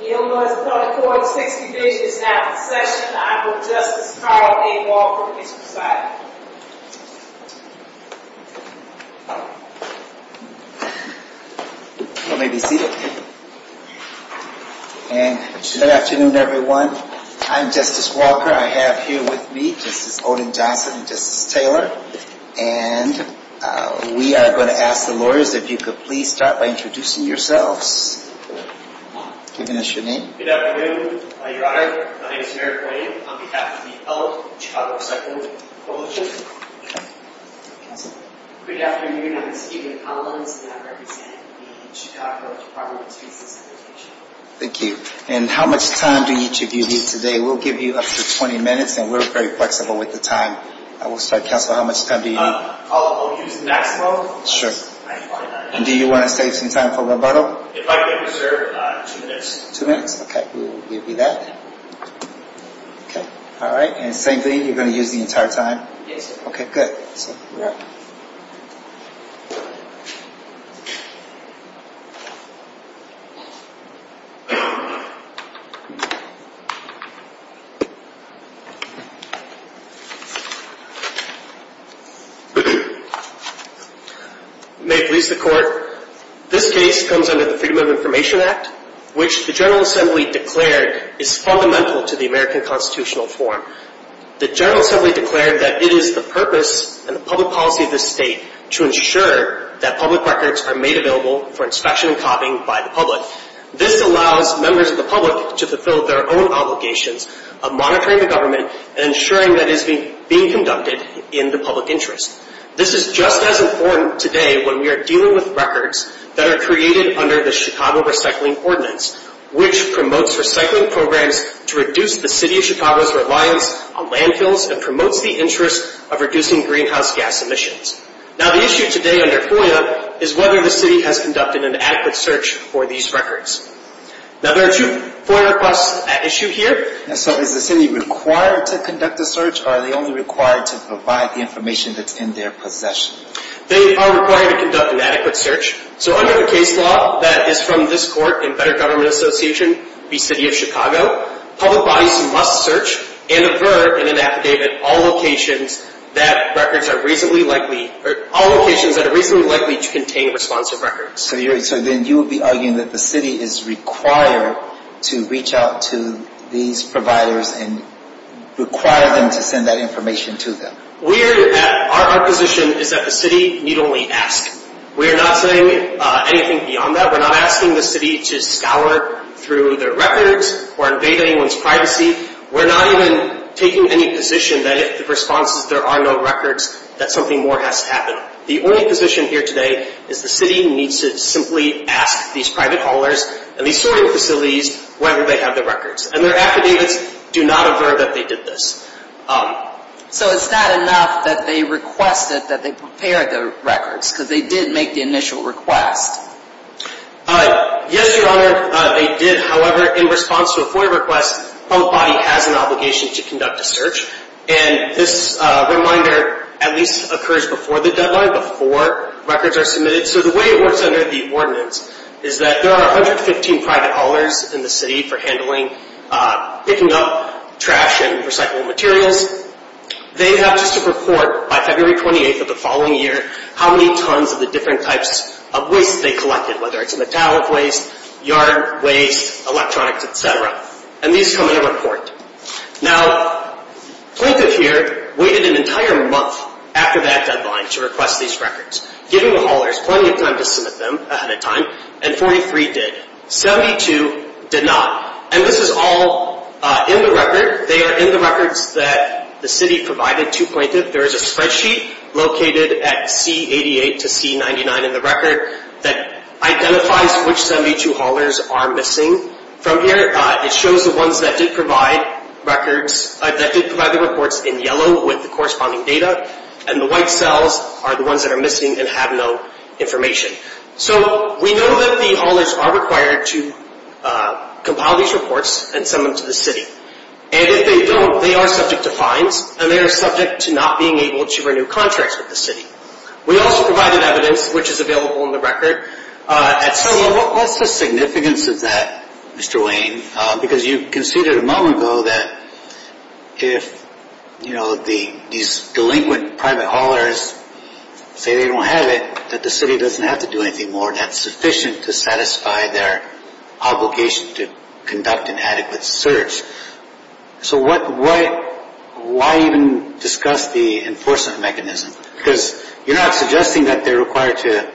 Yield Lawyers Appellate Court, 6th Division is now in session. I bring Justice Carl A. Walker to his presiding. You may be seated. Good afternoon everyone. I'm Justice Walker. I have here with me Justice Odin Johnson and Justice Taylor. And we are going to ask the lawyers if you could please start by introducing yourselves. Giving us your name. Good afternoon, Your Honor. My name is Merrick Wayne. On behalf of the Appellate Chicago Recycling Coalition. Good afternoon. My name is Stephen Collins and I represent the Chicago Department of Street & Sanitation. Thank you. And how much time do each of you need today? We'll give you up to 20 minutes and we're very flexible with the time. I will start. Counselor, how much time do you need? I'll use the maximum. Sure. And do you want to save some time for rebuttal? If I could reserve two minutes. Two minutes? Okay, we'll give you that. Alright, and same thing, you're going to use the entire time? Yes, sir. Okay, good. One second, Merrick. May it please the Court, this case comes under the Freedom of Information Act, which the General Assembly declared is fundamental to the American Constitutional form. The General Assembly declared that it is the purpose and the public policy of this state to ensure that public records are made available for inspection and copying by the public. This allows members of the public to fulfill their own obligations of monitoring the government and ensuring that it is being conducted in the public interest. This is just as important today when we are dealing with records that are created under the Chicago Recycling Ordinance, which promotes recycling programs to reduce the City of Chicago's reliance on landfills and promotes the interest of reducing greenhouse gas emissions. Now, the issue today under FOIA is whether the City has conducted an adequate search for these records. Now, there are two FOIA requests at issue here. So, is the City required to conduct a search, or are they only required to provide the information that's in their possession? They are required to conduct an adequate search. So, under the case law that is from this Court and Better Government Association v. City of Chicago, public bodies must search and aver in an affidavit all locations that are reasonably likely to contain responsive records. So, then you would be arguing that the City is required to reach out to these providers and require them to send that information to them. Our position is that the City need only ask. We are not saying anything beyond that. We're not asking the City to scour through their records or invade anyone's privacy. We're not even taking any position that if the response is there are no records, that something more has to happen. The only position here today is the City needs to simply ask these private callers and these sorting facilities whether they have the records. And their affidavits do not aver that they did this. So, it's not enough that they requested that they prepare the records, because they did make the initial request. Yes, Your Honor, they did. However, in response to a FOIA request, public body has an obligation to conduct a search. And this reminder at least occurs before the deadline, before records are submitted. So, the way it works under the ordinance is that there are 115 private callers in the City for handling picking up trash and recyclable materials. They have just to report by February 28th of the following year how many tons of the different types of waste they collected, whether it's metallic waste, yard waste, electronics, etc. And these come in a report. Now, Plaintiff here waited an entire month after that deadline to request these records, giving the haulers plenty of time to submit them ahead of time, and 43 did. 72 did not. And this is all in the record. They are in the records that the City provided to Plaintiff. There is a spreadsheet located at C88 to C99 in the record that identifies which 72 haulers are missing. From here, it shows the ones that did provide the reports in yellow with the corresponding data, and the white cells are the ones that are missing and have no information. So, we know that the haulers are required to compile these reports and send them to the City. And if they don't, they are subject to fines, and they are subject to not being able to renew contracts with the City. We also provided evidence, which is available in the record. So, what's the significance of that, Mr. Wayne? Because you conceded a moment ago that if these delinquent private haulers say they don't have it, that the City doesn't have to do anything more that's sufficient to satisfy their obligation to conduct an adequate search. So, why even discuss the enforcement mechanism? Because you're not suggesting that they're required to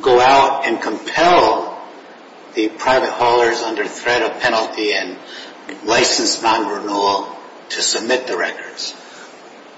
go out and compel the private haulers under threat of penalty and licensed non-renewal to submit the records.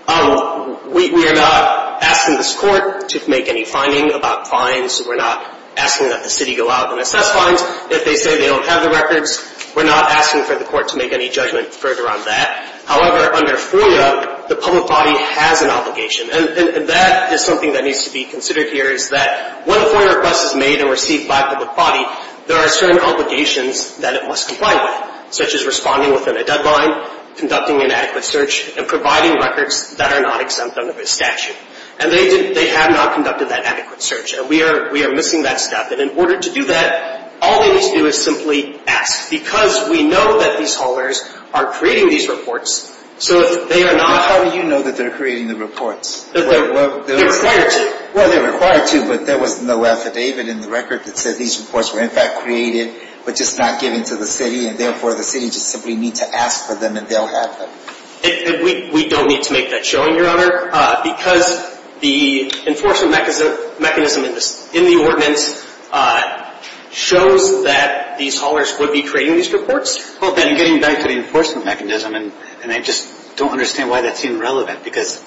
We are not asking this Court to make any finding about fines. We're not asking that the City go out and assess fines. If they say they don't have the records, we're not asking for the Court to make any judgment further on that. However, under FOIA, the public body has an obligation. And that is something that needs to be considered here, is that when a FOIA request is made and received by the public body, there are certain obligations that it must comply with, such as responding within a deadline, conducting an adequate search, and providing records that are not exempt under this statute. And they have not conducted that adequate search, and we are missing that step. And in order to do that, all they need to do is simply ask, because we know that these haulers are creating these reports, so if they are not... How do you know that they're creating the reports? They're required to. Well, they're required to, but there was no affidavit in the record that said these reports were, in fact, created, but just not given to the City, and therefore the City just simply needs to ask for them, and they'll have them. We don't need to make that showing, Your Honor, because the enforcement mechanism in the ordinance shows that these haulers would be creating these reports. Well, getting back to the enforcement mechanism, and I just don't understand why that seems relevant, because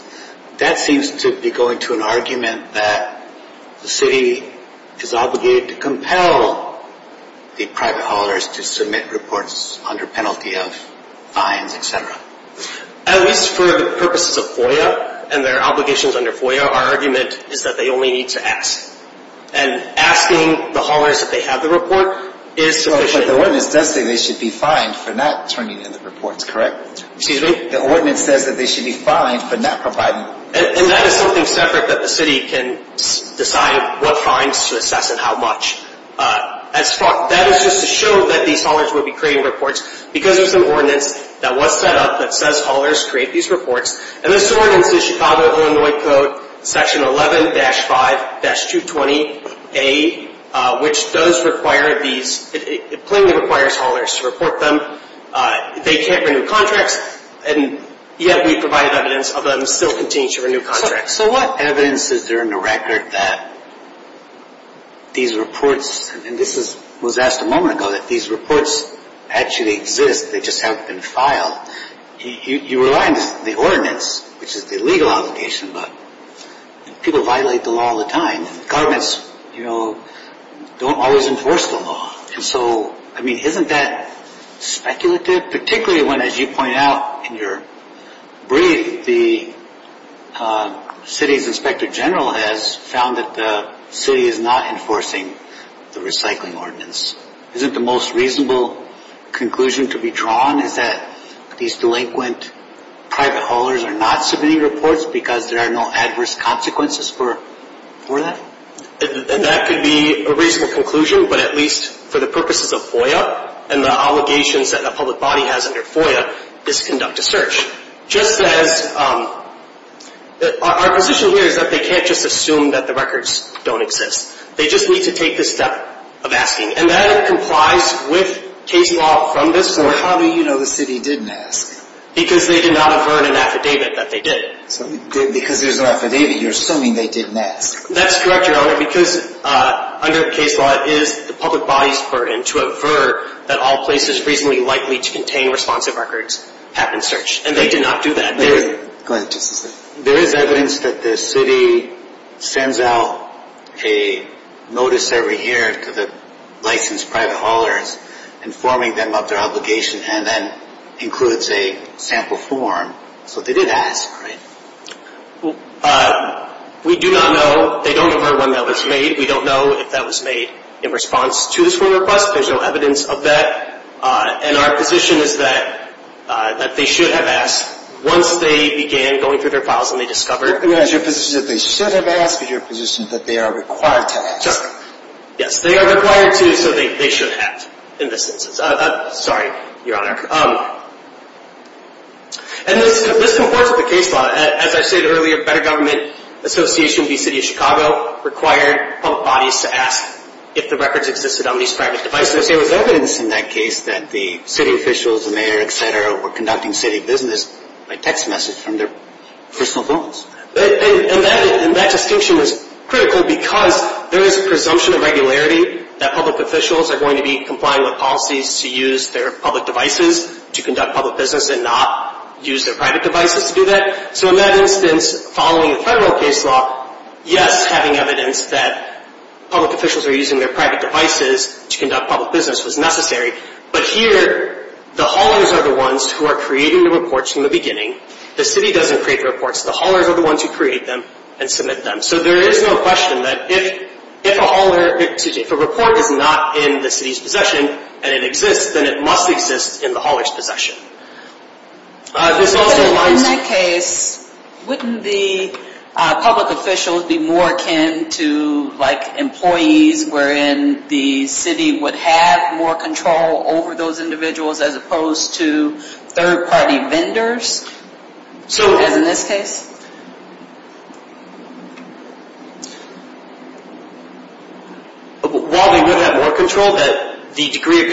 that seems to be going to an argument that the City is obligated to compel the private haulers to submit reports under penalty of fines, et cetera. At least for the purposes of FOIA and their obligations under FOIA, our argument is that they only need to ask. And asking the haulers if they have the report is sufficient. But the ordinance does say they should be fined for not turning in the reports, correct? Excuse me? The ordinance says that they should be fined for not providing... And that is something separate that the City can decide what fines to assess and how much. That is just to show that these haulers would be creating reports, because there's an ordinance that was set up that says haulers create these reports, and this ordinance is Chicago, Illinois Code, Section 11-5-220A, which plainly requires haulers to report them. They can't renew contracts, and yet we provide evidence of them still continuing to renew contracts. So what evidence is there in the record that these reports, and this was asked a moment ago, that these reports actually exist, they just haven't been filed? You rely on the ordinance, which is the legal obligation, but people violate the law all the time. Governments, you know, don't always enforce the law. And so, I mean, isn't that speculative? Particularly when, as you point out in your brief, the City's Inspector General has found that the City is not enforcing the recycling ordinance. Isn't the most reasonable conclusion to be drawn is that these delinquent private haulers are not submitting reports because there are no adverse consequences for that? That could be a reasonable conclusion, but at least for the purposes of FOIA and the obligations that the public body has under FOIA, is to conduct a search. Just as our position here is that they can't just assume that the records don't exist. They just need to take the step of asking, and that complies with case law from this point. Well, how do you know the City didn't ask? Because they did not avert an affidavit that they did. Because there's an affidavit, you're assuming they didn't ask. That's correct, Your Honor, because under case law, it is the public body's burden to avert that all places reasonably likely to contain responsive records have been searched. And they did not do that. Go ahead. There is evidence that the City sends out a notice every year to the licensed private haulers informing them of their obligation, and that includes a sample form. So they did ask, right? We do not know. They don't have heard when that was made. We don't know if that was made in response to this FOIA request. There's no evidence of that. And our position is that they should have asked once they began going through their files and they discovered. Your position is that they should have asked, but your position is that they are required to ask. Yes, they are required to, so they should have, in this instance. Sorry, Your Honor. And this comports with the case law. As I said earlier, Better Government Association v. City of Chicago required public bodies to ask if the records existed on these private devices. There was evidence in that case that the city officials, the mayor, et cetera, were conducting city business by text message from their personal phones. And that distinction was critical because there is a presumption of regularity that public officials are going to be complying with policies to use their public devices to conduct public business and not use their private devices to do that. So in that instance, following the federal case law, yes, having evidence that public officials were using their private devices to conduct public business was necessary. But here, the haulers are the ones who are creating the reports from the beginning. The city doesn't create the reports. The haulers are the ones who create them and submit them. So there is no question that if a report is not in the city's possession and it exists, then it must exist in the hauler's possession. In that case, wouldn't the public officials be more akin to like employees wherein the city would have more control over those individuals as opposed to third-party vendors, as in this case? While they would have more control, the degree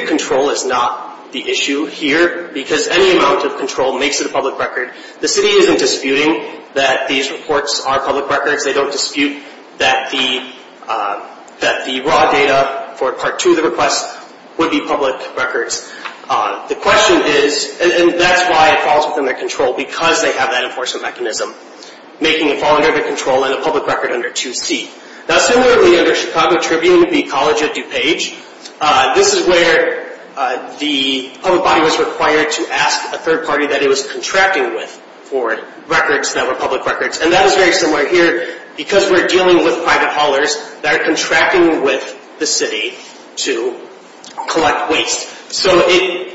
of control is not the issue here because any amount of control makes it a public record. The city isn't disputing that these reports are public records. They don't dispute that the raw data for Part 2 of the request would be public records. The question is, and that's why it falls within their control, because they have that enforcement mechanism, making it fall under their control and a public record under 2C. Now, similarly, under Chicago Tribune, the College of DuPage, this is where the public body was required to ask a third party that it was contracting with for records that were public records. And that is very similar here because we're dealing with private haulers that are contracting with the city to collect waste. So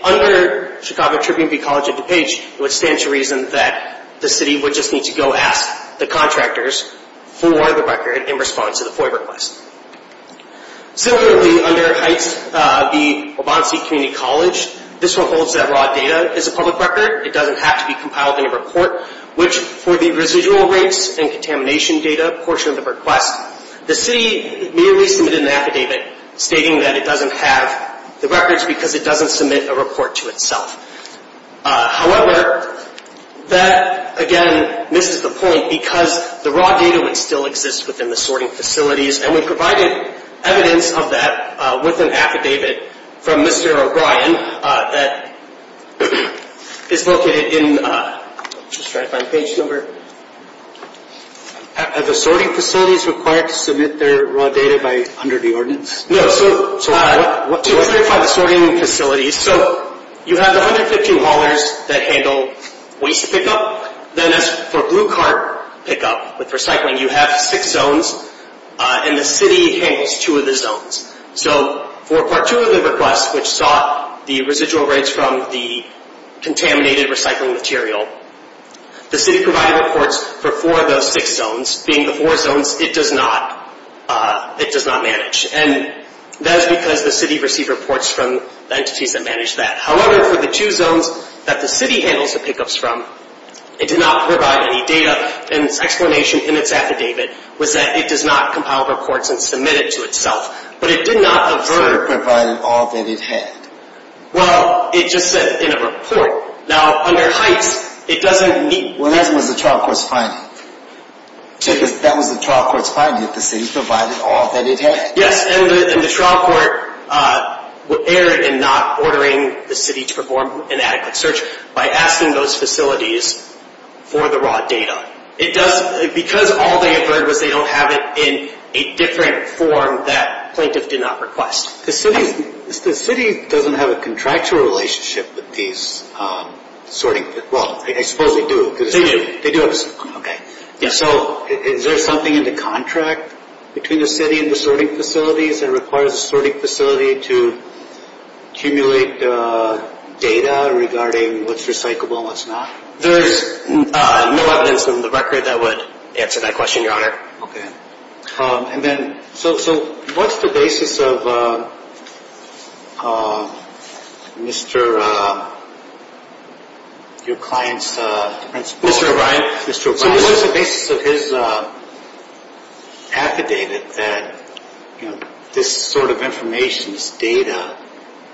under Chicago Tribune, the College of DuPage would stand to reason that the city would just need to go ask the contractors for the record in response to the FOIA request. Similarly, under Heights, the Waubonsie Community College, this one holds that raw data is a public record. It doesn't have to be compiled in a report, which for the residual rates and contamination data portion of the request, the city merely submitted an affidavit stating that it doesn't have the records because it doesn't submit a report to itself. However, that, again, misses the point because the raw data would still exist within the sorting facilities, and we provided evidence of that with an affidavit from Mr. O'Brien that is located in... I'm just trying to find the page number. Are the sorting facilities required to submit their raw data under the ordinance? No. So what... To clarify the sorting facilities, so you have the 150 haulers that handle waste pickup. Then as for blue cart pickup with recycling, you have six zones, and the city handles two of the zones. So for Part 2 of the request, which sought the residual rates from the contaminated recycling material, the city provided reports for four of those six zones, being the four zones it does not manage, and that is because the city received reports from entities that manage that. However, for the two zones that the city handles the pickups from, it did not provide any data, and its explanation in its affidavit was that it does not compile reports and submit it to itself, but it did not avert... The city provided all that it had. Well, it just said in a report. Now, under heights, it doesn't meet... Well, that was the trial court's finding. That was the trial court's finding, that the city provided all that it had. Yes, and the trial court erred in not ordering the city to perform an adequate search by asking those facilities for the raw data. Because all they averted was they don't have it in a different form that plaintiff did not request. The city doesn't have a contractual relationship with these sorting... Well, I suppose they do. They do. They do. Okay. So is there something in the contract between the city and the sorting facilities that requires a sorting facility to accumulate data regarding what's recyclable and what's not? There's no evidence in the record that would answer that question, Your Honor. Okay. So what's the basis of Mr. O'Brien's... So what is the basis of his affidavit that this sort of information, this data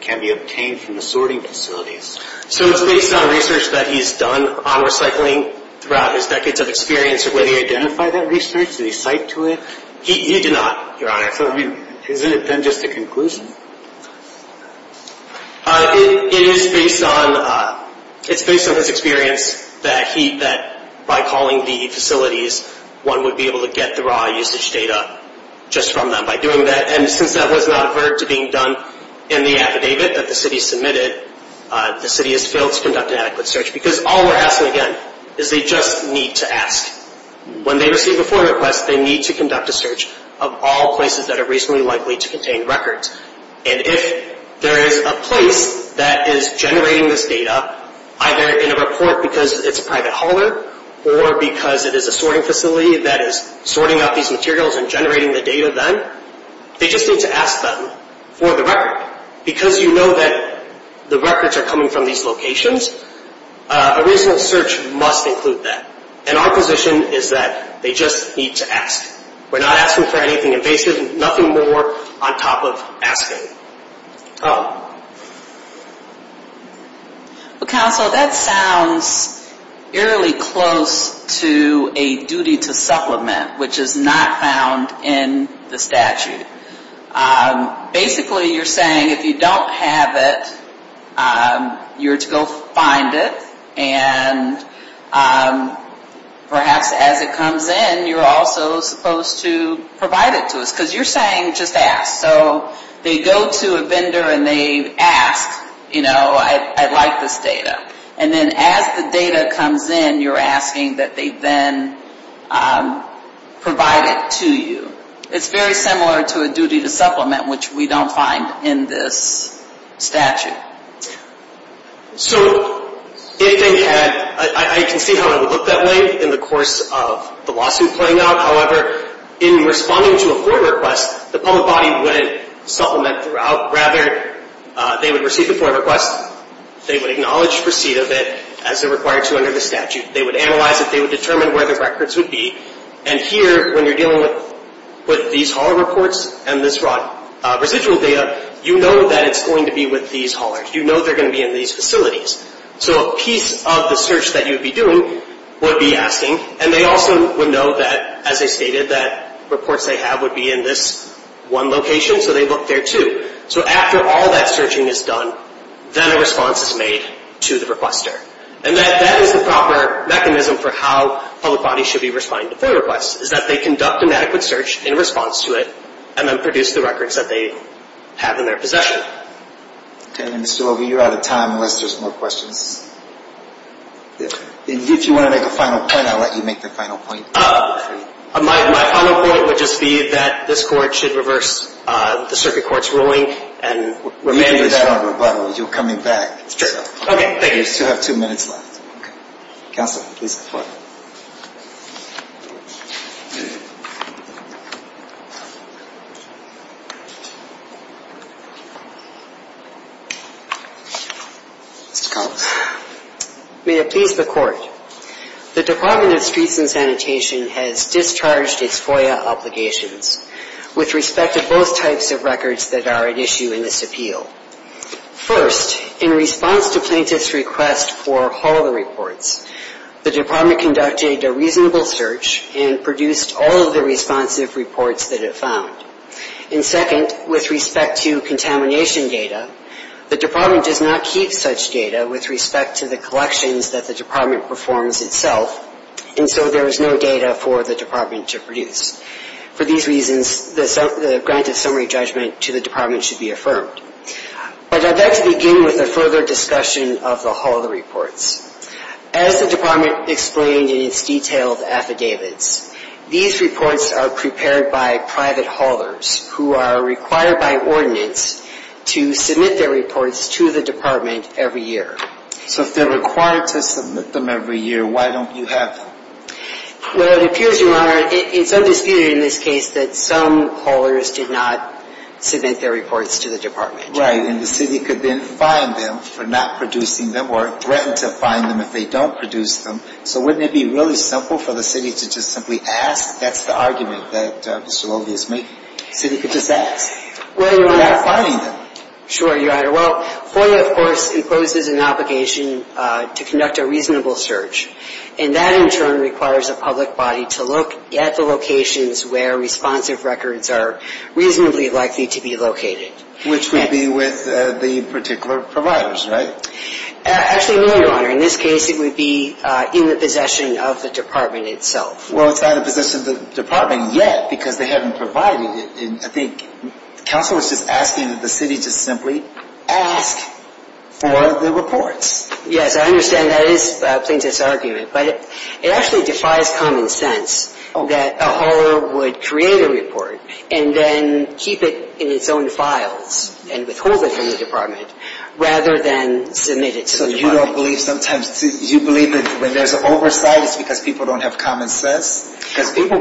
can be obtained from the sorting facilities? So it's based on research that he's done on recycling throughout his decades of experience, whether he identified that research, did he cite to it? He did not, Your Honor. So, I mean, isn't it then just a conclusion? It is based on his experience that by calling the facilities, one would be able to get the raw usage data just from them by doing that. And since that was not averted to being done in the affidavit that the city submitted, the city has failed to conduct an adequate search. Because all we're asking, again, is they just need to ask. When they receive a form request, they need to conduct a search of all places that are reasonably likely to contain records. And if there is a place that is generating this data, either in a report because it's a private holder or because it is a sorting facility that is sorting out these materials and generating the data then, they just need to ask them for the record. Because you know that the records are coming from these locations, a reasonable search must include that. And our position is that they just need to ask. We're not asking for anything invasive, nothing more on top of asking. Oh. Well, Counsel, that sounds eerily close to a duty to supplement, which is not found in the statute. Basically, you're saying if you don't have it, you're to go find it and perhaps as it comes in, you're also supposed to provide it to us. Because you're saying just ask. So they go to a vendor and they ask, you know, I'd like this data. And then as the data comes in, you're asking that they then provide it to you. It's very similar to a duty to supplement, which we don't find in this statute. So if they had, I can see how it would look that way in the course of the lawsuit playing out. However, in responding to a FOIA request, the public body wouldn't supplement throughout. Rather, they would receive the FOIA request. They would acknowledge receipt of it as they're required to under the statute. They would analyze it. They would determine where the records would be. And here, when you're dealing with these hauler reports and this residual data, you know that it's going to be with these haulers. You know they're going to be in these facilities. So a piece of the search that you would be doing would be asking. And they also would know that, as I stated, that reports they have would be in this one location. So they look there, too. So after all that searching is done, then a response is made to the requester. And that is the proper mechanism for how public bodies should be responding to FOIA requests, is that they conduct an adequate search in response to it and then produce the records that they have in their possession. Okay. Mr. Overby, you're out of time unless there's more questions. If you want to make a final point, I'll let you make the final point. My final point would just be that this Court should reverse the circuit court's ruling and remain. You can do that on rebuttal. You're coming back. It's true. Okay. Thank you. You still have two minutes left. Counsel, please report. Mr. Collins. May it please the Court. The Department of Streets and Sanitation has discharged its FOIA obligations with respect to both types of records that are at issue in this appeal. First, in response to plaintiff's request for all the reports, the Department conducted a reasonable search and produced all of the responsive reports that it found. And second, with respect to contamination data, the Department does not keep such data with respect to the collections that the Department performs itself, For these reasons, the grant of summary judgment to the Department should be affirmed. But I'd like to begin with a further discussion of the hauler reports. As the Department explained in its detailed affidavits, these reports are prepared by private haulers who are required by ordinance to submit their reports to the Department every year. So if they're required to submit them every year, why don't you have them? Well, it appears, Your Honor, it's undisputed in this case that some haulers did not submit their reports to the Department. Right, and the city could then fine them for not producing them or threaten to fine them if they don't produce them. So wouldn't it be really simple for the city to just simply ask? That's the argument that Mr. Loewe is making. The city could just ask. Well, Your Honor. Without fining them. Sure, Your Honor. Well, FOIA, of course, imposes an obligation to conduct a reasonable search. And that, in turn, requires the public body to look at the locations where responsive records are reasonably likely to be located. Which would be with the particular providers, right? Actually, no, Your Honor. In this case, it would be in the possession of the Department itself. Well, it's not in the possession of the Department yet because they haven't provided it. I think counsel is just asking that the city just simply ask for the reports. Yes, I understand that is a plaintiff's argument. But it actually defies common sense that a hauler would create a report and then keep it in its own files and withhold it from the Department rather than submit it to the Department. So you don't believe sometimes, you believe that when there's an oversight, it's because people don't have common sense? Because people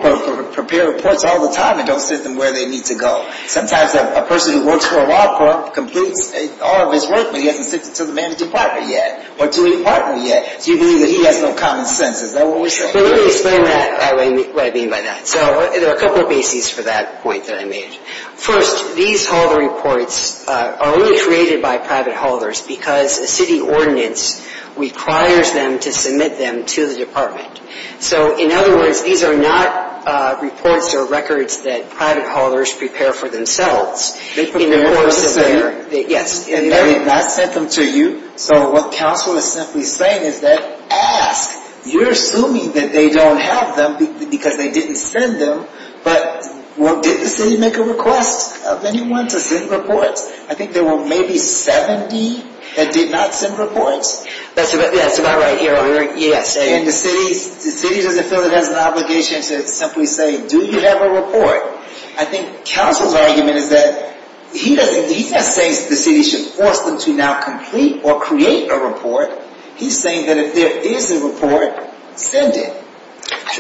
prepare reports all the time and don't send them where they need to go. Sometimes a person who works for a law court completes all of his work, but he hasn't sent it to the manager's partner yet or to a partner yet. So you believe that he has no common sense. Is that what we're saying? Let me explain what I mean by that. So there are a couple of bases for that point that I made. First, these hauler reports are only created by private haulers because a city ordinance requires them to submit them to the Department. So in other words, these are not reports or records that private haulers prepare for themselves. They prepare them for the center. They did not send them to you. So what counsel is simply saying is that, ask, you're assuming that they don't have them because they didn't send them, but did the city make a request of anyone to send reports? I think there were maybe 70 that did not send reports. That's about right. And the city doesn't feel it has an obligation to simply say, do you have a report? I think counsel's argument is that he's not saying that the city should force them to now complete or create a report. He's saying that if there is a report, send it.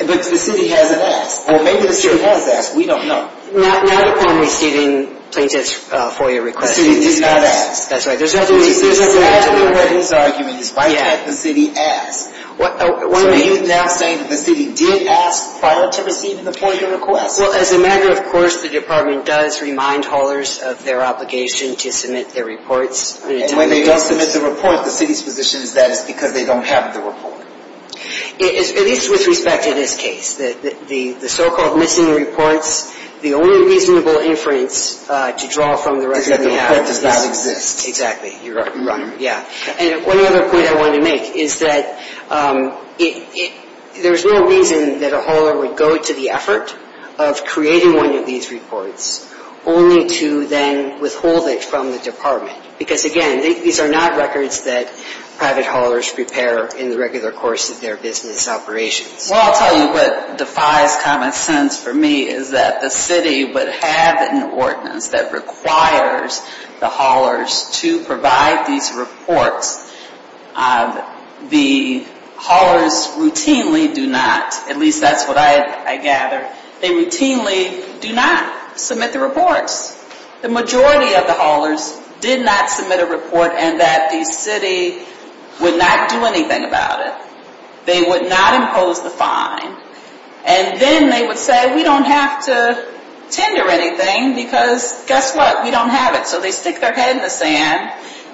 But the city hasn't asked. Well, maybe the city has asked. We don't know. Not upon receiving plaintiff's FOIA request. The city did not ask. That's right. There's nothing to do with that. There's nothing to do with his argument. His wife had the city ask. So he's now saying that the city did ask prior to receiving the FOIA request. Well, as a matter of course, the department does remind haulers of their obligation to submit their reports. And when they don't submit the report, the city's position is that it's because they don't have the report. At least with respect to this case. The so-called missing reports, the only reasonable inference to draw from the record is that the report does not exist. Exactly. You're right. Yeah. And one other point I wanted to make is that there's no reason that a hauler would go to the effort of creating one of these reports, only to then withhold it from the department. Because, again, these are not records that private haulers prepare in the regular course of their business operations. Well, I'll tell you what defies common sense for me is that the city would have an ordinance that requires the haulers to provide these reports. The haulers routinely do not, at least that's what I gather, they routinely do not submit the reports. The majority of the haulers did not submit a report and that the city would not do anything about it. They would not impose the fine. And then they would say, we don't have to tender anything because guess what? We don't have it. So they stick their head in the sand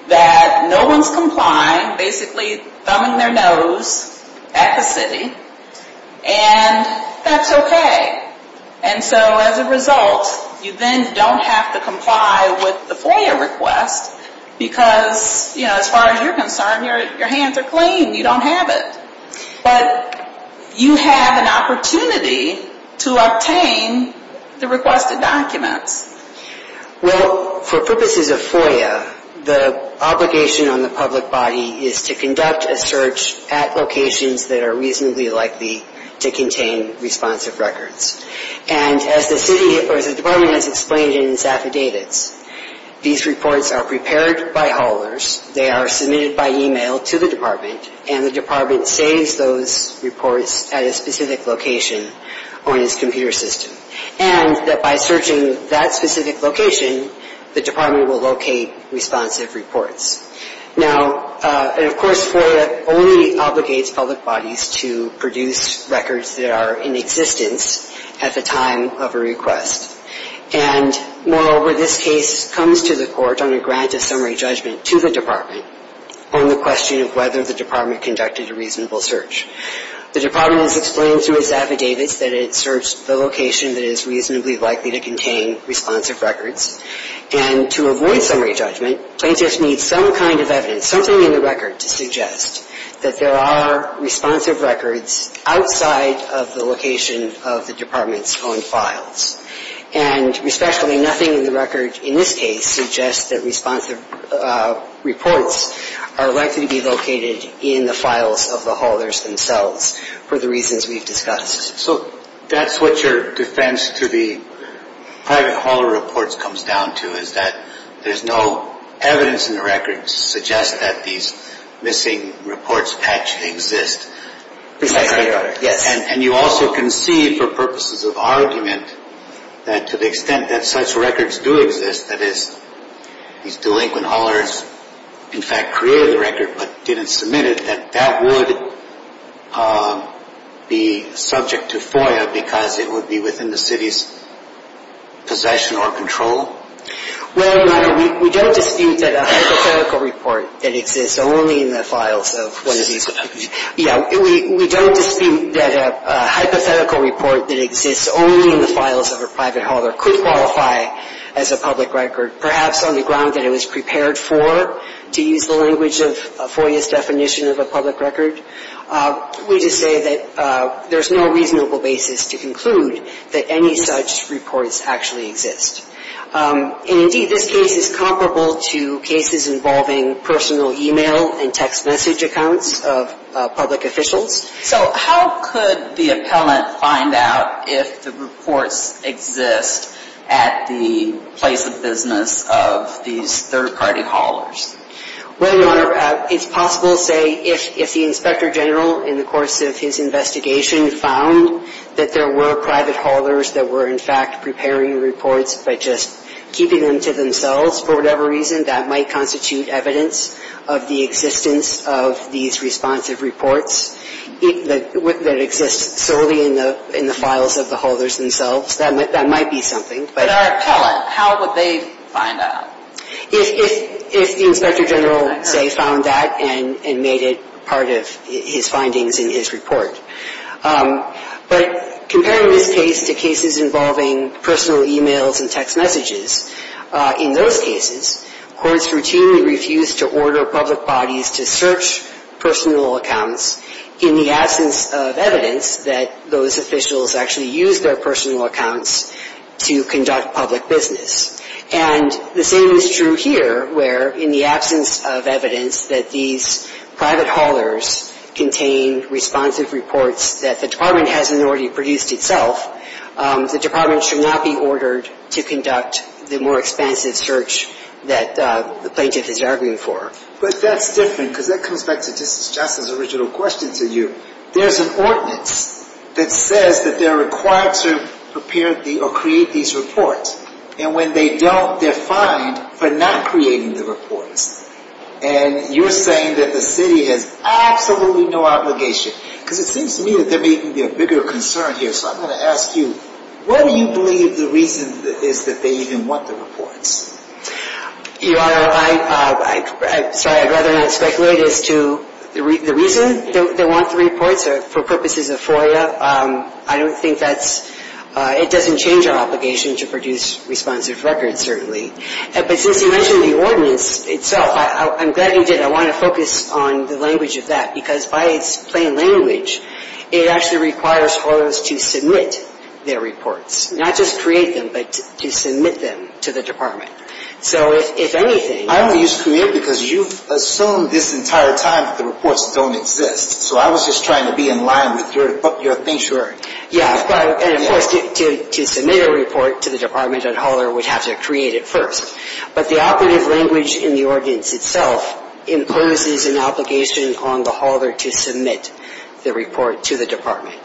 that no one's complying, basically thumbing their nose at the city. And that's okay. And so as a result, you then don't have to comply with the FOIA request because, you know, as far as you're concerned, your hands are clean. You don't have it. But you have an opportunity to obtain the requested documents. Well, for purposes of FOIA, the obligation on the public body is to conduct a search at locations that are reasonably likely to contain responsive records. And as the city or as the department has explained in its affidavits, these reports are prepared by haulers. They are submitted by e-mail to the department and the department saves those reports at a specific location on its computer system. And that by searching that specific location, the department will locate responsive reports. Now, and of course, FOIA only obligates public bodies to produce records that are in existence at the time of a request. And moreover, this case comes to the court on a grant of summary judgment to the department on the question of whether the department conducted a reasonable search. The department has explained through its affidavits that it searched the location that is reasonably likely to contain responsive records. And to avoid summary judgment, plaintiffs need some kind of evidence, something in the record to suggest that there are responsive records outside of the location of the department's own files. And respectfully, nothing in the record in this case suggests that responsive reports are likely to be located in the files of the haulers themselves for the reasons we've discussed. So that's what your defense to the private hauler reports comes down to, is that there's no evidence in the record to suggest that these missing reports actually exist. Precisely, Your Honor. Yes. And you also can see, for purposes of argument, that to the extent that such records do exist, that is, these delinquent haulers in fact created the record but didn't submit it, that that would be subject to FOIA because it would be within the city's possession or control? Well, Your Honor, we don't dispute that a hypothetical report that exists only in the files of one of these. Yeah, we don't dispute that a hypothetical report that exists only in the files of a private hauler could qualify as a public record, perhaps on the ground that it was prepared for, to use the language of FOIA's definition of a public record. We just say that there's no reasonable basis to conclude that any such reports actually exist. And indeed, this case is comparable to cases involving personal e-mail and text message accounts of public officials. So how could the appellant find out if the reports exist at the place of business of these third-party haulers? Well, Your Honor, it's possible to say if the Inspector General, in the course of his investigation, found that there were private haulers that were in fact preparing reports by just keeping them to themselves for whatever reason, that might constitute evidence of the existence of these responsive reports that exist solely in the files of the haulers themselves. That might be something. But our appellant, how would they find out? If the Inspector General, say, found that and made it part of his findings in his report. But comparing this case to cases involving personal e-mails and text messages, in those cases, courts routinely refuse to order public bodies to search personal accounts in the absence of evidence that those officials actually used their personal accounts to conduct public business. And the same is true here, where in the absence of evidence that these private haulers contain responsive reports that the Department hasn't already produced itself, the Department should not be ordered to conduct the more expansive search that the plaintiff is arguing for. But that's different, because that comes back to Justice Johnson's original question to you. There's an ordinance that says that they're required to prepare or create these reports. And when they don't, they're fined for not creating the reports. And you're saying that the city has absolutely no obligation. Because it seems to me that there may even be a bigger concern here. So I'm going to ask you, what do you believe the reason is that they even want the reports? Your Honor, I'm sorry, I'd rather not speculate as to the reason they want the reports. For purposes of FOIA, I don't think that's – it doesn't change our obligation to produce responsive records, certainly. But since you mentioned the ordinance itself, I'm glad you did. I want to focus on the language of that. Because by its plain language, it actually requires haulers to submit their reports. Not just create them, but to submit them to the Department. So if anything – I only used create because you've assumed this entire time that the reports don't exist. So I was just trying to be in line with your thing. Sure. Yeah, and of course, to submit a report to the Department, a hauler would have to create it first. But the operative language in the ordinance itself imposes an obligation on the hauler to submit the report to the Department.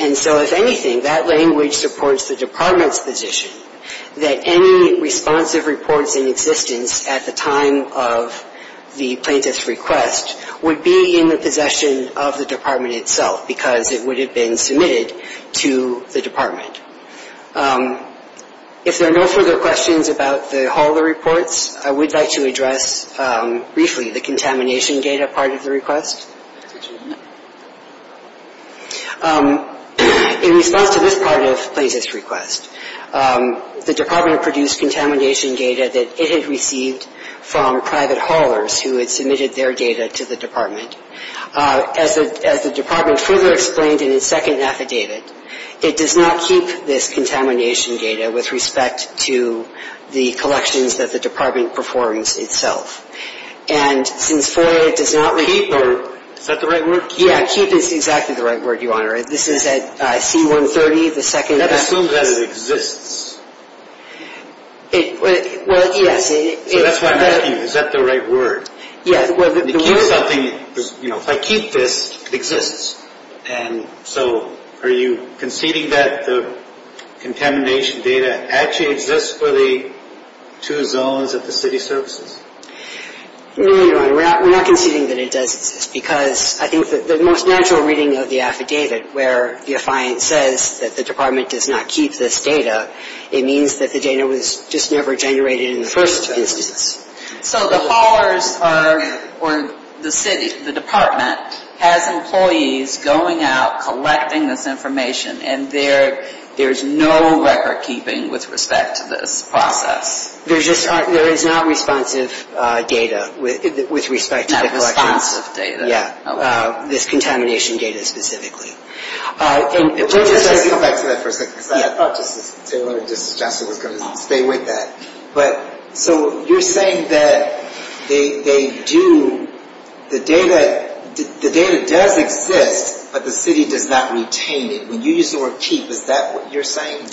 And so if anything, that language supports the Department's position that any responsive reports in existence at the time of the plaintiff's request would be in the possession of the Department itself, because it would have been submitted to the Department. If there are no further questions about the hauler reports, I would like to address briefly the contamination data part of the request. In response to this part of the plaintiff's request, the Department produced contamination data that it had received from private haulers who had submitted their data to the Department. As the Department further explained in its second affidavit, it does not keep this contamination data with respect to the collections that the Department performs itself. And since FOIA does not – Keep. Is that the right word? Yeah, keep is exactly the right word, Your Honor. This is at C-130, the second – I assume that it exists. Well, yes. So that's why I'm asking, is that the right word? Yeah, well – To keep something – if I keep this, it exists. And so are you conceding that the contamination data actually exists for the two zones at the city services? No, Your Honor, we're not conceding that it does exist, because I think that the most natural reading of the affidavit, where the affiant says that the Department does not keep this data, it means that the data was just never generated in the first instance. So the haulers are – or the city, the Department, has employees going out, collecting this information, and there's no recordkeeping with respect to this process? There's just – there is not responsive data with respect to the collections. Not responsive data. Yeah. This contamination data specifically. And we're just – Can I just come back to that for a second? Yeah. Because I thought Justice Taylor and Justice Johnson were going to stay with that. But so you're saying that they do – the data does exist, but the city does not retain it. When you use the word keep, is that what you're saying?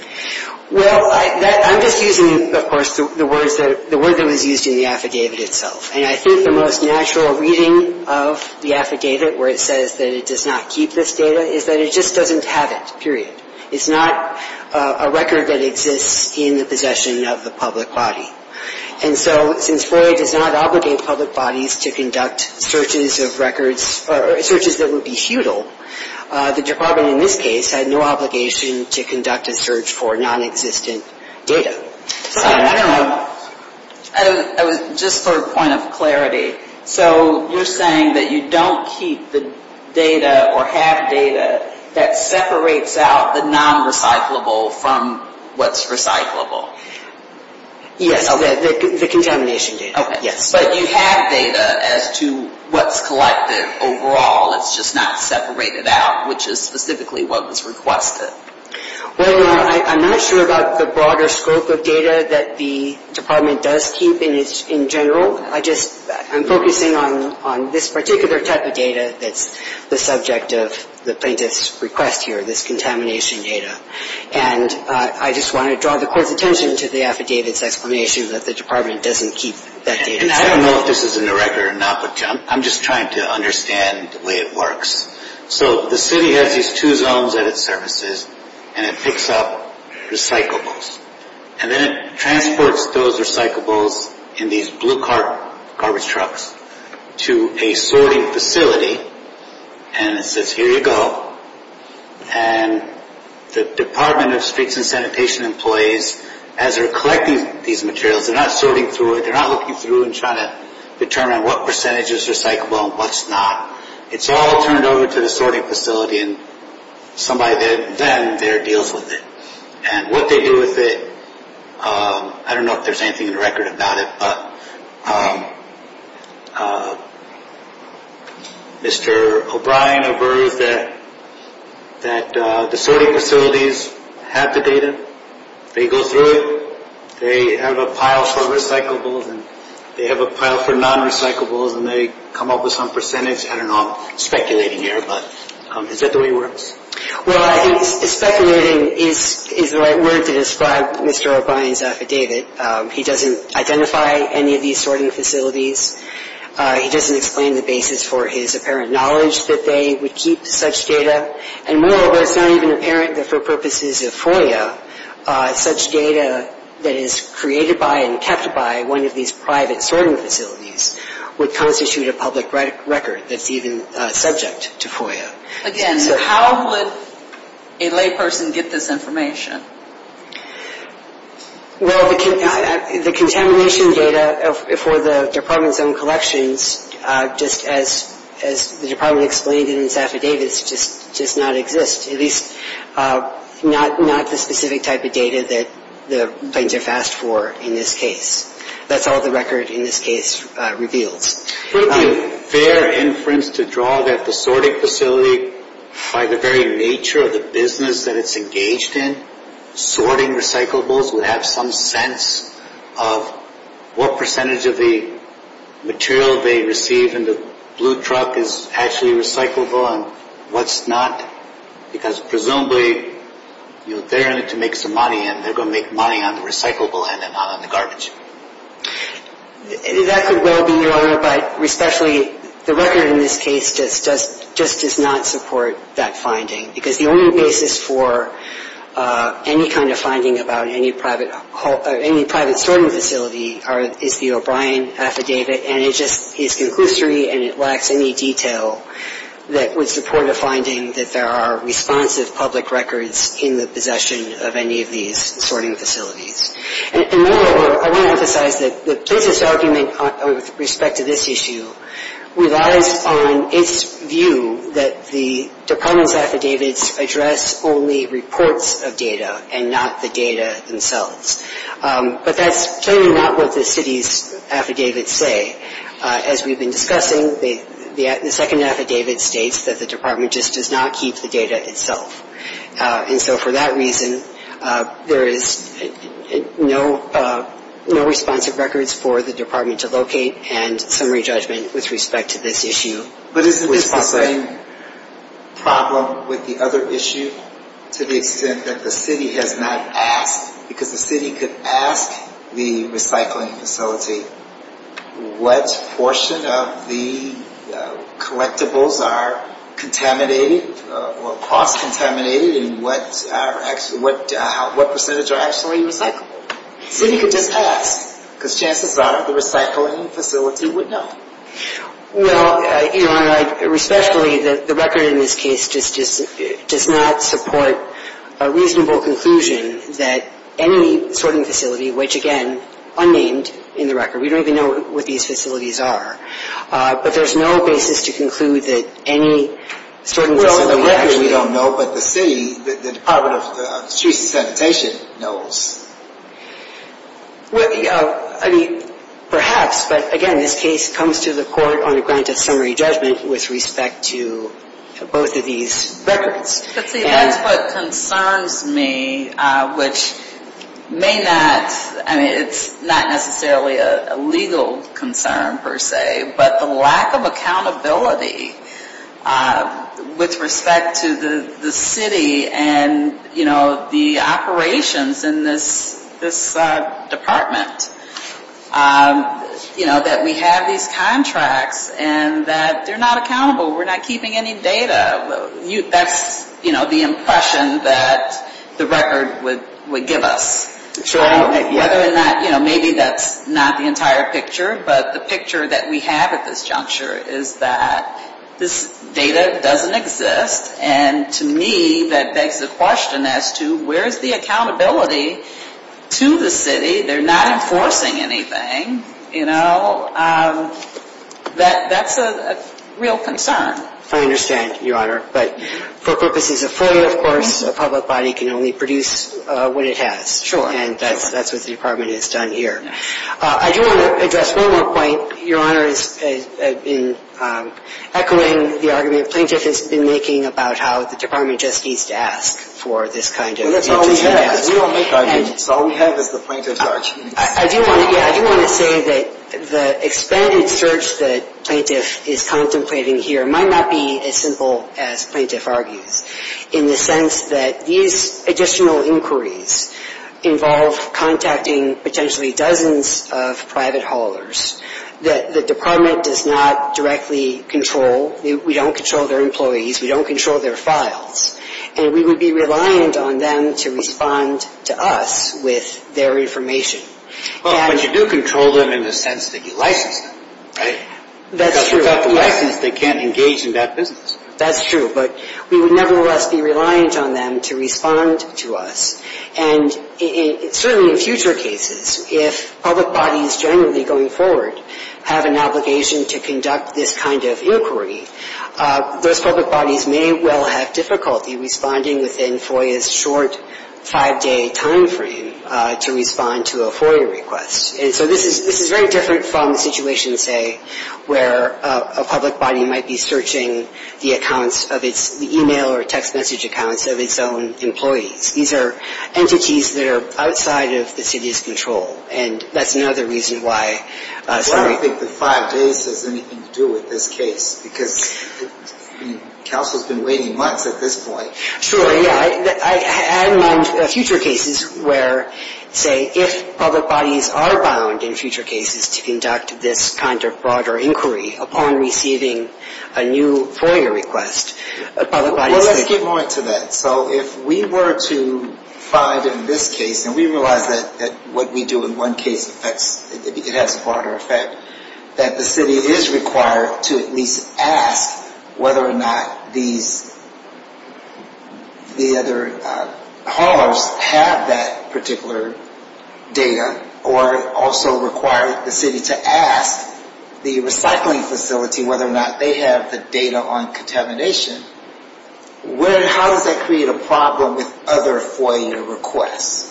Well, I'm just using, of course, the word that was used in the affidavit itself. And I think the most natural reading of the affidavit, where it says that it does not keep this data, is that it just doesn't have it, period. It's not a record that exists in the possession of the public body. And so since FOIA does not obligate public bodies to conduct searches of records – or searches that would be futile, the Department in this case had no obligation to conduct a search for nonexistent data. Sorry. I don't know. Just for a point of clarity. So you're saying that you don't keep the data or have data that separates out the non-recyclable from what's recyclable. Yes. Okay. The contamination data. Okay. Yes. But you have data as to what's collected overall. It's just not separated out, which is specifically what was requested. Well, I'm not sure about the broader scope of data that the Department does keep in general. I'm focusing on this particular type of data that's the subject of the plaintiff's request here, this contamination data. And I just want to draw the Court's attention to the affidavit's explanation that the Department doesn't keep that data. And I don't know if this is in the record or not, but I'm just trying to understand the way it works. So the city has these two zones at its surfaces, and it picks up recyclables. And then it transports those recyclables in these blue cart garbage trucks to a sorting facility. And it says, here you go. And the Department of Streets and Sanitation employees, as they're collecting these materials, they're not sorting through it. They're not looking through and trying to determine what percentage is recyclable and what's not. It's all turned over to the sorting facility, and somebody then there deals with it. And what they do with it, I don't know if there's anything in the record about it. But Mr. O'Brien averts that the sorting facilities have the data. They go through it. They have a pile for recyclables, and they have a pile for non-recyclables. And they come up with some percentage. I don't know. I'm speculating here, but is that the way it works? Well, I think speculating is the right word to describe Mr. O'Brien's affidavit. He doesn't identify any of these sorting facilities. He doesn't explain the basis for his apparent knowledge that they would keep such data. And moreover, it's not even apparent that for purposes of FOIA, such data that is created by and kept by one of these private sorting facilities would constitute a public record that's even subject to FOIA. Again, how would a layperson get this information? Well, the contamination data for the department's own collections, just as the department explained in its affidavits, just does not exist. At least not the specific type of data that the planes are fast for in this case. That's all the record in this case reveals. Wouldn't it be fair inference to draw that the sorting facility, by the very nature of the business that it's engaged in, sorting recyclables would have some sense of what percentage of the material they receive and the blue truck is actually recyclable and what's not? Because presumably they're in it to make some money and they're going to make money on the recyclable end and not on the garbage. That could well be, Your Honor, but especially the record in this case just does not support that finding. Because the only basis for any kind of finding about any private sorting facility is the O'Brien affidavit. And it just is conclusory and it lacks any detail that would support a finding that there are responsive public records in the possession of any of these sorting facilities. And moreover, I want to emphasize that the plaintiff's argument with respect to this issue relies on its view that the department's affidavits address only reports of data and not the data themselves. But that's clearly not what the city's affidavits say. As we've been discussing, the second affidavit states that the department just does not keep the data itself. And so for that reason, there is no responsive records for the department to locate and summary judgment with respect to this issue. But isn't this the same problem with the other issue to the extent that the city has not asked? Because the city could ask the recycling facility what portion of the collectibles are contaminated or cross-contaminated and what percentage are actually recycled. The city could just ask because chances are the recycling facility would know. Well, Your Honor, respectfully, the record in this case just does not support a reasonable conclusion that any sorting facility, which again, unnamed in the record. We don't even know what these facilities are. But there's no basis to conclude that any sorting facility actually. Well, the record we don't know, but the city, the Department of Streets and Sanitation knows. Well, you know, I mean, perhaps, but again, this case comes to the court on a granted summary judgment with respect to both of these records. But see, that's what concerns me, which may not, I mean, it's not necessarily a legal concern per se, but the lack of accountability with respect to the city and, you know, the operations in this department. You know, that we have these contracts and that they're not accountable. We're not keeping any data. That's, you know, the impression that the record would give us. Sure. Whether or not, you know, maybe that's not the entire picture. But the picture that we have at this juncture is that this data doesn't exist. And to me, that begs the question as to where is the accountability to the city? They're not enforcing anything. You know, that's a real concern. I understand, Your Honor. But for purposes of freedom, of course, a public body can only produce what it has. Sure. And that's what the Department has done here. I do want to address one more point. Your Honor has been echoing the argument Plaintiff has been making about how the Department just needs to ask for this kind of information. That's all we have. All we have is the Plaintiff's arguments. I do want to say that the expanded search that Plaintiff is contemplating here might not be as simple as Plaintiff argues in the sense that these additional inquiries involve contacting potentially dozens of private haulers that the Department does not directly control. We don't control their employees. We don't control their files. And we would be reliant on them to respond to us with their information. Well, but you do control them in the sense that you license them, right? That's true. Without the license, they can't engage in that business. That's true. But we would nevertheless be reliant on them to respond to us. And certainly in future cases, if public bodies generally going forward have an obligation to conduct this kind of inquiry, those public bodies may well have difficulty responding within FOIA's short five-day timeframe to respond to a FOIA request. And so this is very different from the situation, say, where a public body might be searching the accounts of its email or text message accounts of its own employees. These are entities that are outside of the city's control. And that's another reason why some of the – Well, I don't think the five days has anything to do with this case because the council has been waiting months at this point. Sure, yeah. I had in mind future cases where, say, if public bodies are bound in future cases to conduct this kind of broader inquiry upon receiving a new FOIA request, public bodies could – Well, let's get more into that. So if we were to find in this case – and we realize that what we do in one case affects – it has a broader effect – that the city is required to at least ask whether or not these – the other haulers have that particular data or also require the city to ask the recycling facility whether or not they have the data on contamination, how does that create a problem with other FOIA requests?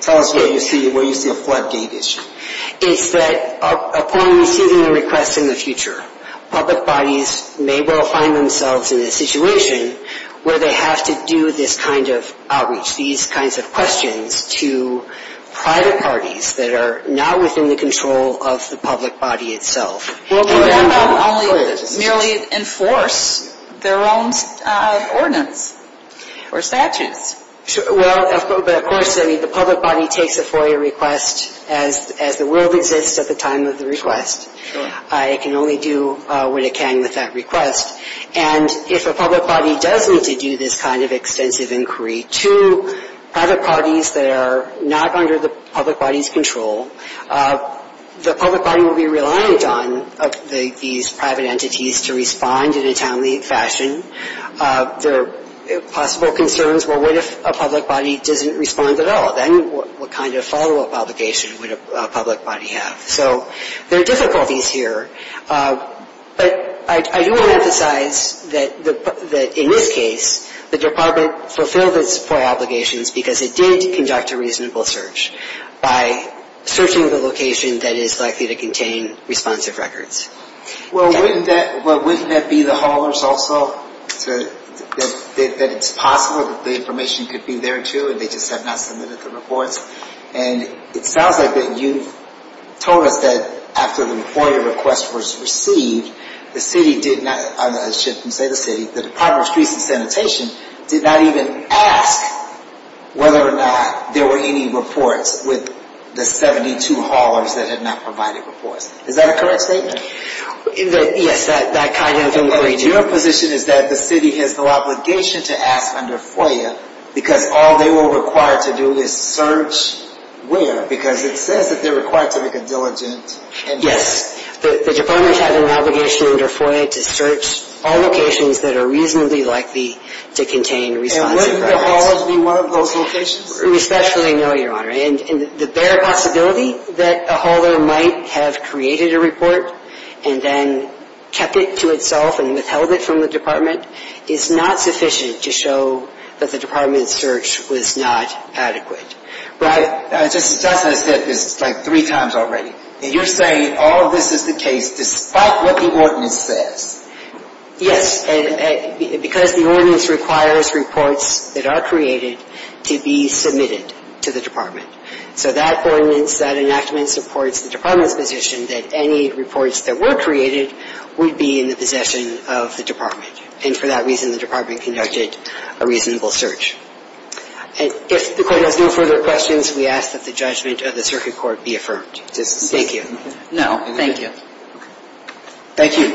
Tell us where you see a floodgate issue. The floodgate issue is that upon receiving a request in the future, public bodies may well find themselves in a situation where they have to do this kind of outreach, these kinds of questions to private parties that are not within the control of the public body itself. Well, that would only merely enforce their own ordinance or statutes. Well, but of course, I mean, the public body takes a FOIA request as the world exists at the time of the request. Sure. It can only do what it can with that request. And if a public body does need to do this kind of extensive inquiry to private parties that are not under the public body's control, the public body will be reliant on these private entities to respond in a timely fashion. There are possible concerns, well, what if a public body doesn't respond at all? Then what kind of follow-up obligation would a public body have? So there are difficulties here. But I do want to emphasize that in this case, the department fulfilled its FOIA obligations because it did conduct a reasonable search by searching the location that is likely to contain responsive records. Well, wouldn't that be the haulers also, that it's possible that the information could be there, too, and they just have not submitted the reports? And it sounds like that you've told us that after the FOIA request was received, the city did not, I should say the city, the Department of Streets and Sanitation did not even ask whether or not there were any reports with the 72 haulers that had not provided reports. Is that a correct statement? Yes, that kind of inquiry did. And your position is that the city has no obligation to ask under FOIA because all they were required to do is search where? Because it says that they're required to make a diligent inquiry. Yes. The department had an obligation under FOIA to search all locations that are reasonably likely to contain responsive records. And wouldn't the haulers be one of those locations? Especially, no, Your Honor. And the bare possibility that a hauler might have created a report and then kept it to itself and withheld it from the department is not sufficient to show that the department's search was not adequate. Justice Johnson has said this like three times already, and you're saying all of this is the case despite what the ordinance says. Yes. Because the ordinance requires reports that are created to be submitted to the department. So that ordinance, that enactment supports the department's position that any reports that were created would be in the possession of the department. And for that reason, the department conducted a reasonable search. And if the Court has no further questions, we ask that the judgment of the circuit court be affirmed. Thank you. No, thank you. Thank you. Thank you.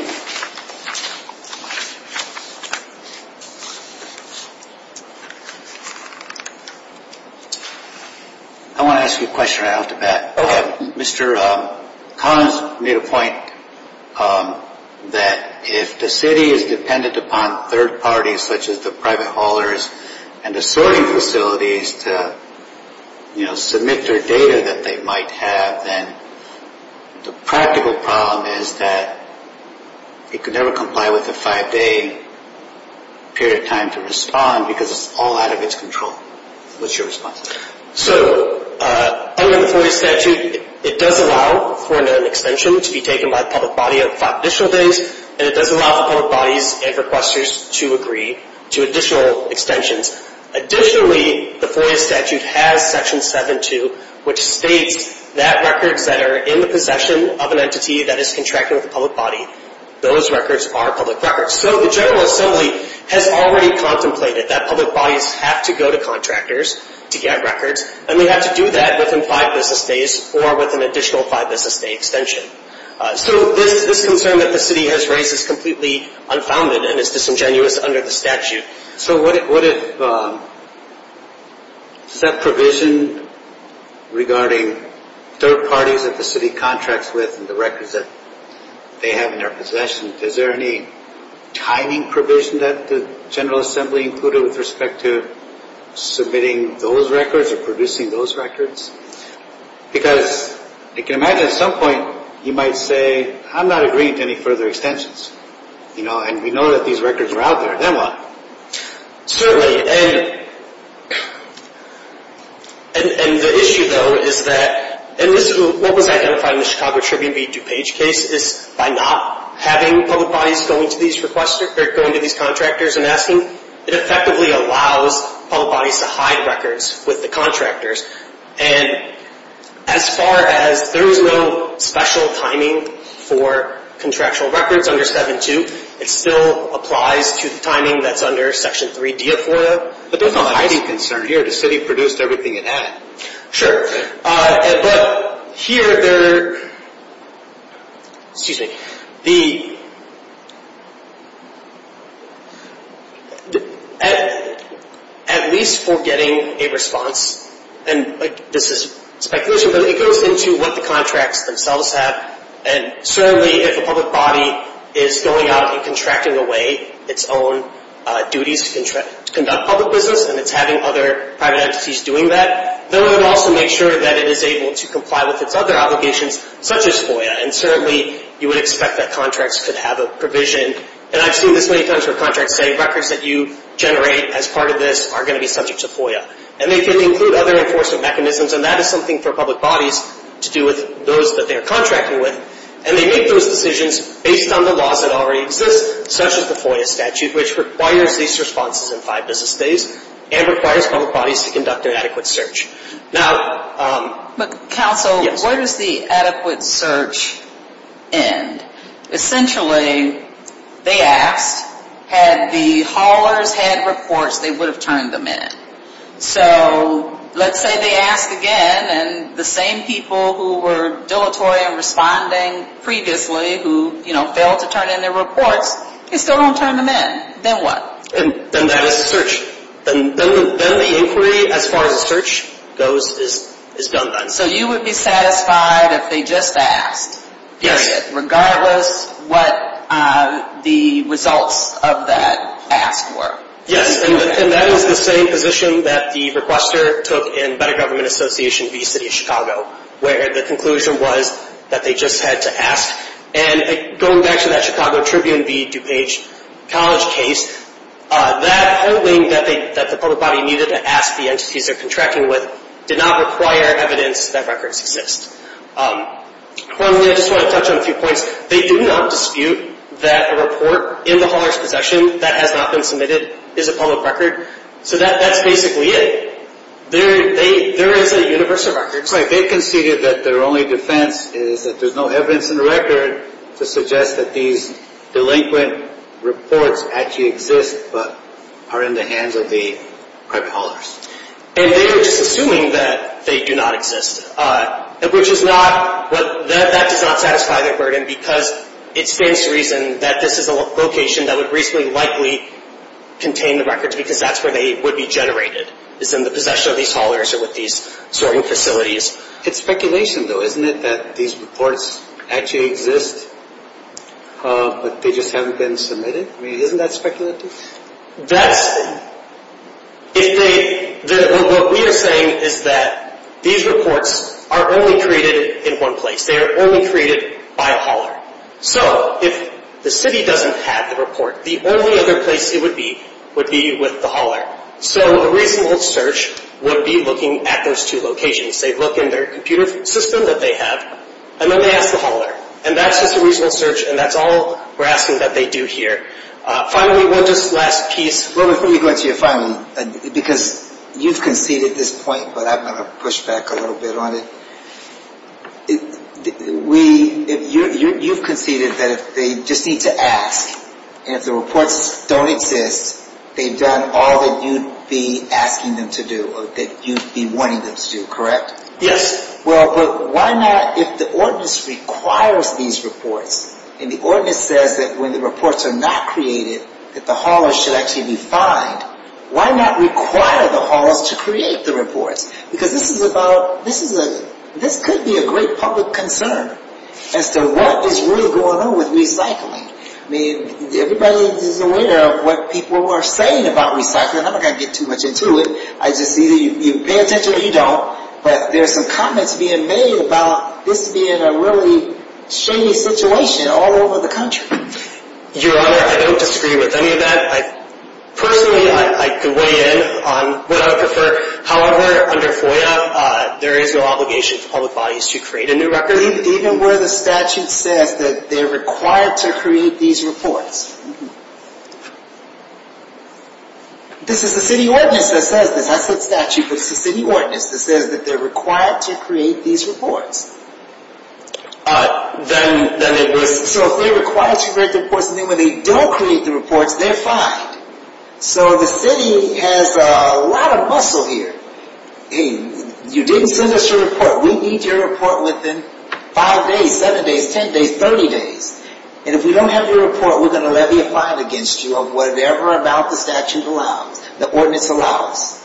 I want to ask you a question right off the bat. Okay. Mr. Collins made a point that if the city is dependent upon third parties, such as the private haulers and assorting facilities to, you know, it could never comply with a five-day period of time to respond because it's all out of its control. What's your response to that? So under the FOIA statute, it does allow for an extension to be taken by the public body of five additional days, and it does allow for public bodies and requesters to agree to additional extensions. Additionally, the FOIA statute has Section 7-2, which states that records that are in the possession of an entity that is contracting with a public body, those records are public records. So the General Assembly has already contemplated that public bodies have to go to contractors to get records, and they have to do that within five business days or with an additional five-business-day extension. So this concern that the city has raised is completely unfounded and is disingenuous under the statute. So what if that provision regarding third parties that the city contracts with and the records that they have in their possession, is there any timing provision that the General Assembly included with respect to submitting those records or producing those records? Because I can imagine at some point you might say, I'm not agreeing to any further extensions, you know, and we know that these records are out there, then what? Certainly, and the issue, though, is that, and this is what was identified in the Chicago Tribune v. DuPage case, is by not having public bodies going to these contractors and asking, it effectively allows public bodies to hide records with the contractors. And as far as there is no special timing for contractual records under 7-2, it still applies to the timing that's under Section 3-D of FOIA. But there's no hiding concern here. The city produced everything it had. Sure. But here there, excuse me, the, at least for getting a response, and this is speculation, but it goes into what the contracts themselves have. And certainly if a public body is going out and contracting away its own duties to conduct public business and it's having other private entities doing that, they would also make sure that it is able to comply with its other obligations, such as FOIA. And certainly you would expect that contracts could have a provision, and I've seen this many times where contracts say, records that you generate as part of this are going to be subject to FOIA. And they could include other enforcement mechanisms, and that is something for public bodies to do with those that they are contracting with. And they make those decisions based on the laws that already exist, such as the FOIA statute, which requires these responses in five business days, and requires public bodies to conduct an adequate search. Now, yes. But counsel, where does the adequate search end? Essentially, they asked, had the haulers had reports, they would have turned them in. So let's say they ask again, and the same people who were dilatory in responding previously, who failed to turn in their reports, they still don't turn them in. Then what? Then that is a search. Then the inquiry, as far as the search goes, is done then. So you would be satisfied if they just asked, period, regardless what the results of that ask were? Yes. And that is the same position that the requester took in Better Government Association v. City of Chicago, where the conclusion was that they just had to ask. And going back to that Chicago Tribune v. DuPage College case, that polling that the public body needed to ask the entities they're contracting with did not require evidence that records exist. One thing I just want to touch on a few points. They did not dispute that a report in the hauler's possession that has not been submitted is a public record. So that's basically it. There is a universe of records. That's right. They conceded that their only defense is that there's no evidence in the record to suggest that these delinquent reports actually exist, but are in the hands of the private haulers. And they were just assuming that they do not exist, which does not satisfy their burden, because it stands to reason that this is a location that would reasonably likely contain the records, because that's where they would be generated, is in the possession of these haulers or with these sorting facilities. It's speculation, though, isn't it, that these reports actually exist, but they just haven't been submitted? I mean, isn't that speculative? That's – if they – what we are saying is that these reports are only created in one place. They are only created by a hauler. So if the city doesn't have the report, the only other place it would be would be with the hauler. So a reasonable search would be looking at those two locations. They look in their computer system that they have, and then they ask the hauler. And that's just a reasonable search, and that's all we're asking that they do here. Finally, one last piece. Robert, before you go into your final, because you've conceded this point, but I'm going to push back a little bit on it. We – you've conceded that if they just need to ask, and if the reports don't exist, they've done all that you'd be asking them to do or that you'd be wanting them to do, correct? Yes. Well, but why not – if the Ordinance requires these reports, and the Ordinance says that when the reports are not created that the haulers should actually be fined, why not require the haulers to create the reports? Because this is about – this could be a great public concern as to what is really going on with recycling. I mean, everybody is aware of what people are saying about recycling. I'm not going to get too much into it. I just see that you pay attention or you don't, but there are some comments being made about this being a really shady situation all over the country. Your Honor, I don't disagree with any of that. Personally, I could weigh in on what I would prefer. However, under FOIA, there is no obligation for public bodies to create a new record. Even where the statute says that they're required to create these reports? This is the City Ordinance that says this. I said statute, but it's the City Ordinance that says that they're required to create these reports. Then it was – So if they're required to create the reports, and then when they don't create the reports, they're fined. So the City has a lot of muscle here. You didn't send us your report. We need your report within five days, seven days, ten days, thirty days. And if we don't have your report, we're going to levy a fine against you of whatever amount the statute allows, the ordinance allows.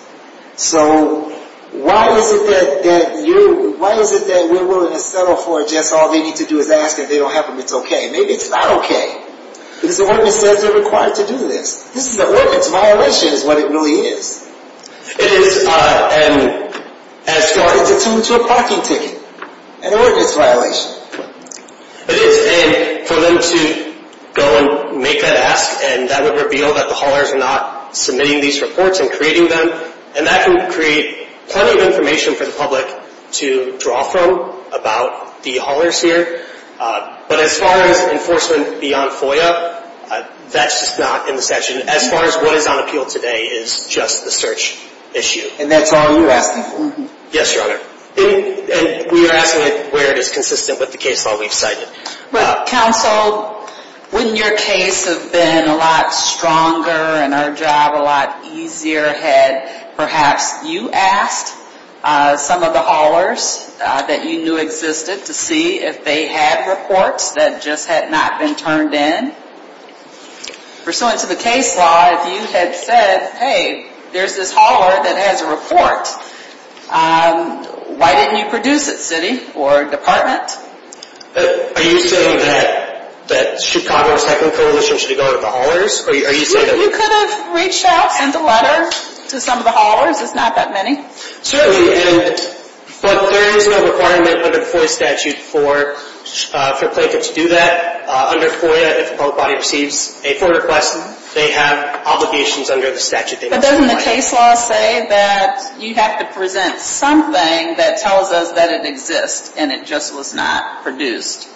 So why is it that you – why is it that we're willing to settle for just all they need to do is ask if they don't have them, it's okay. Maybe it's not okay. Because the ordinance says they're required to do this. This is – the ordinance violation is what it really is. It is an – as far as it's linked to a parking ticket, an ordinance violation. It is. And for them to go and make that ask, and that would reveal that the haulers are not submitting these reports and creating them, and that can create plenty of information for the public to draw from about the haulers here. But as far as enforcement beyond FOIA, that's just not in the statute. As far as what is on appeal today is just the search issue. And that's all you're asking for? Yes, Your Honor. And we are asking it where it is consistent with the case law we've cited. Well, counsel, wouldn't your case have been a lot stronger and our job a lot easier had perhaps you asked some of the haulers that you knew existed to see if they had reports that just had not been turned in? Pursuant to the case law, if you had said, hey, there's this hauler that has a report, why didn't you produce it, city or department? Are you saying that Chicago's Techland Coalition should go to the haulers? You could have reached out and sent a letter to some of the haulers. It's not that many. Certainly. But there is no requirement under the FOIA statute for a plaintiff to do that. Under FOIA, if a public body receives a FOIA request, they have obligations under the statute. But doesn't the case law say that you have to present something that tells us that it exists and it just was not produced?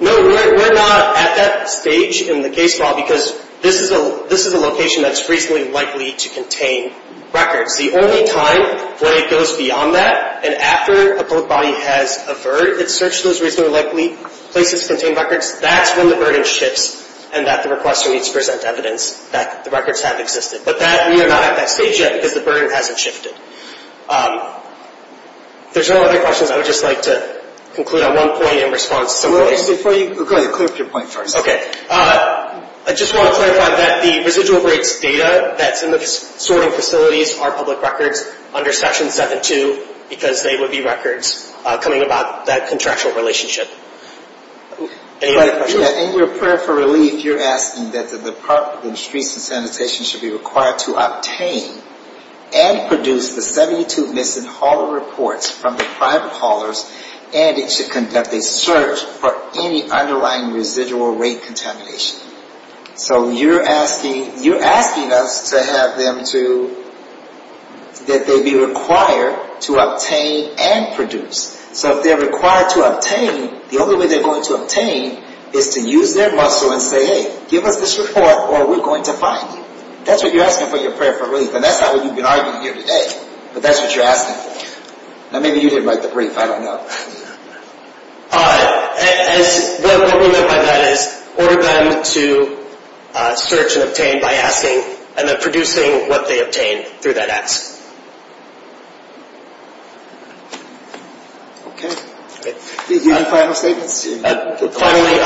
No, we're not at that stage in the case law because this is a location that's reasonably likely to contain records. The only time where it goes beyond that and after a public body has averted its search to those reasonably likely places to contain records, that's when the burden shifts and that the requester needs to present evidence that the records have existed. But we are not at that stage yet because the burden hasn't shifted. If there's no other questions, I would just like to conclude on one point in response to some questions. Before you go ahead, clear up your point first. Okay. I just want to clarify that the residual rates data that's in the sorting facilities are public records under Section 7-2 because they would be records coming about that contractual relationship. In your prayer for relief, you're asking that the Department of Streets and Sanitation should be required to obtain and produce the 72 missing hauler reports from the private haulers and it should conduct a search for any underlying residual rate contamination. So you're asking us to have them to, that they be required to obtain and produce. So if they're required to obtain, the only way they're going to obtain is to use their muscle and say, hey, give us this report or we're going to fine you. That's what you're asking for your prayer for relief. And that's not what you've been arguing here today. But that's what you're asking for. Now maybe you didn't write the brief. I don't know. What we meant by that is order them to search and obtain by asking and then producing what they obtain through that ask. Okay. Do you have any final statements? Finally,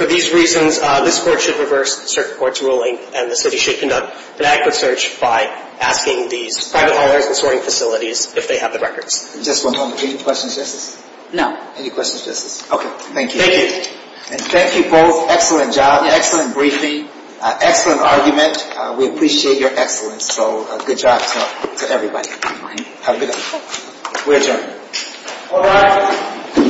for these reasons, this court should reverse the circuit court's ruling and the city should conduct an accurate search by asking these private haulers and sorting facilities if they have the records. Just one moment. Any questions, Justice? No. Any questions, Justice? Okay. Thank you. Thank you. And thank you both. Excellent job. Excellent briefing. Excellent argument. We appreciate your excellence. So good job to everybody. Thank you. Have a good day. We're adjourned. All rise.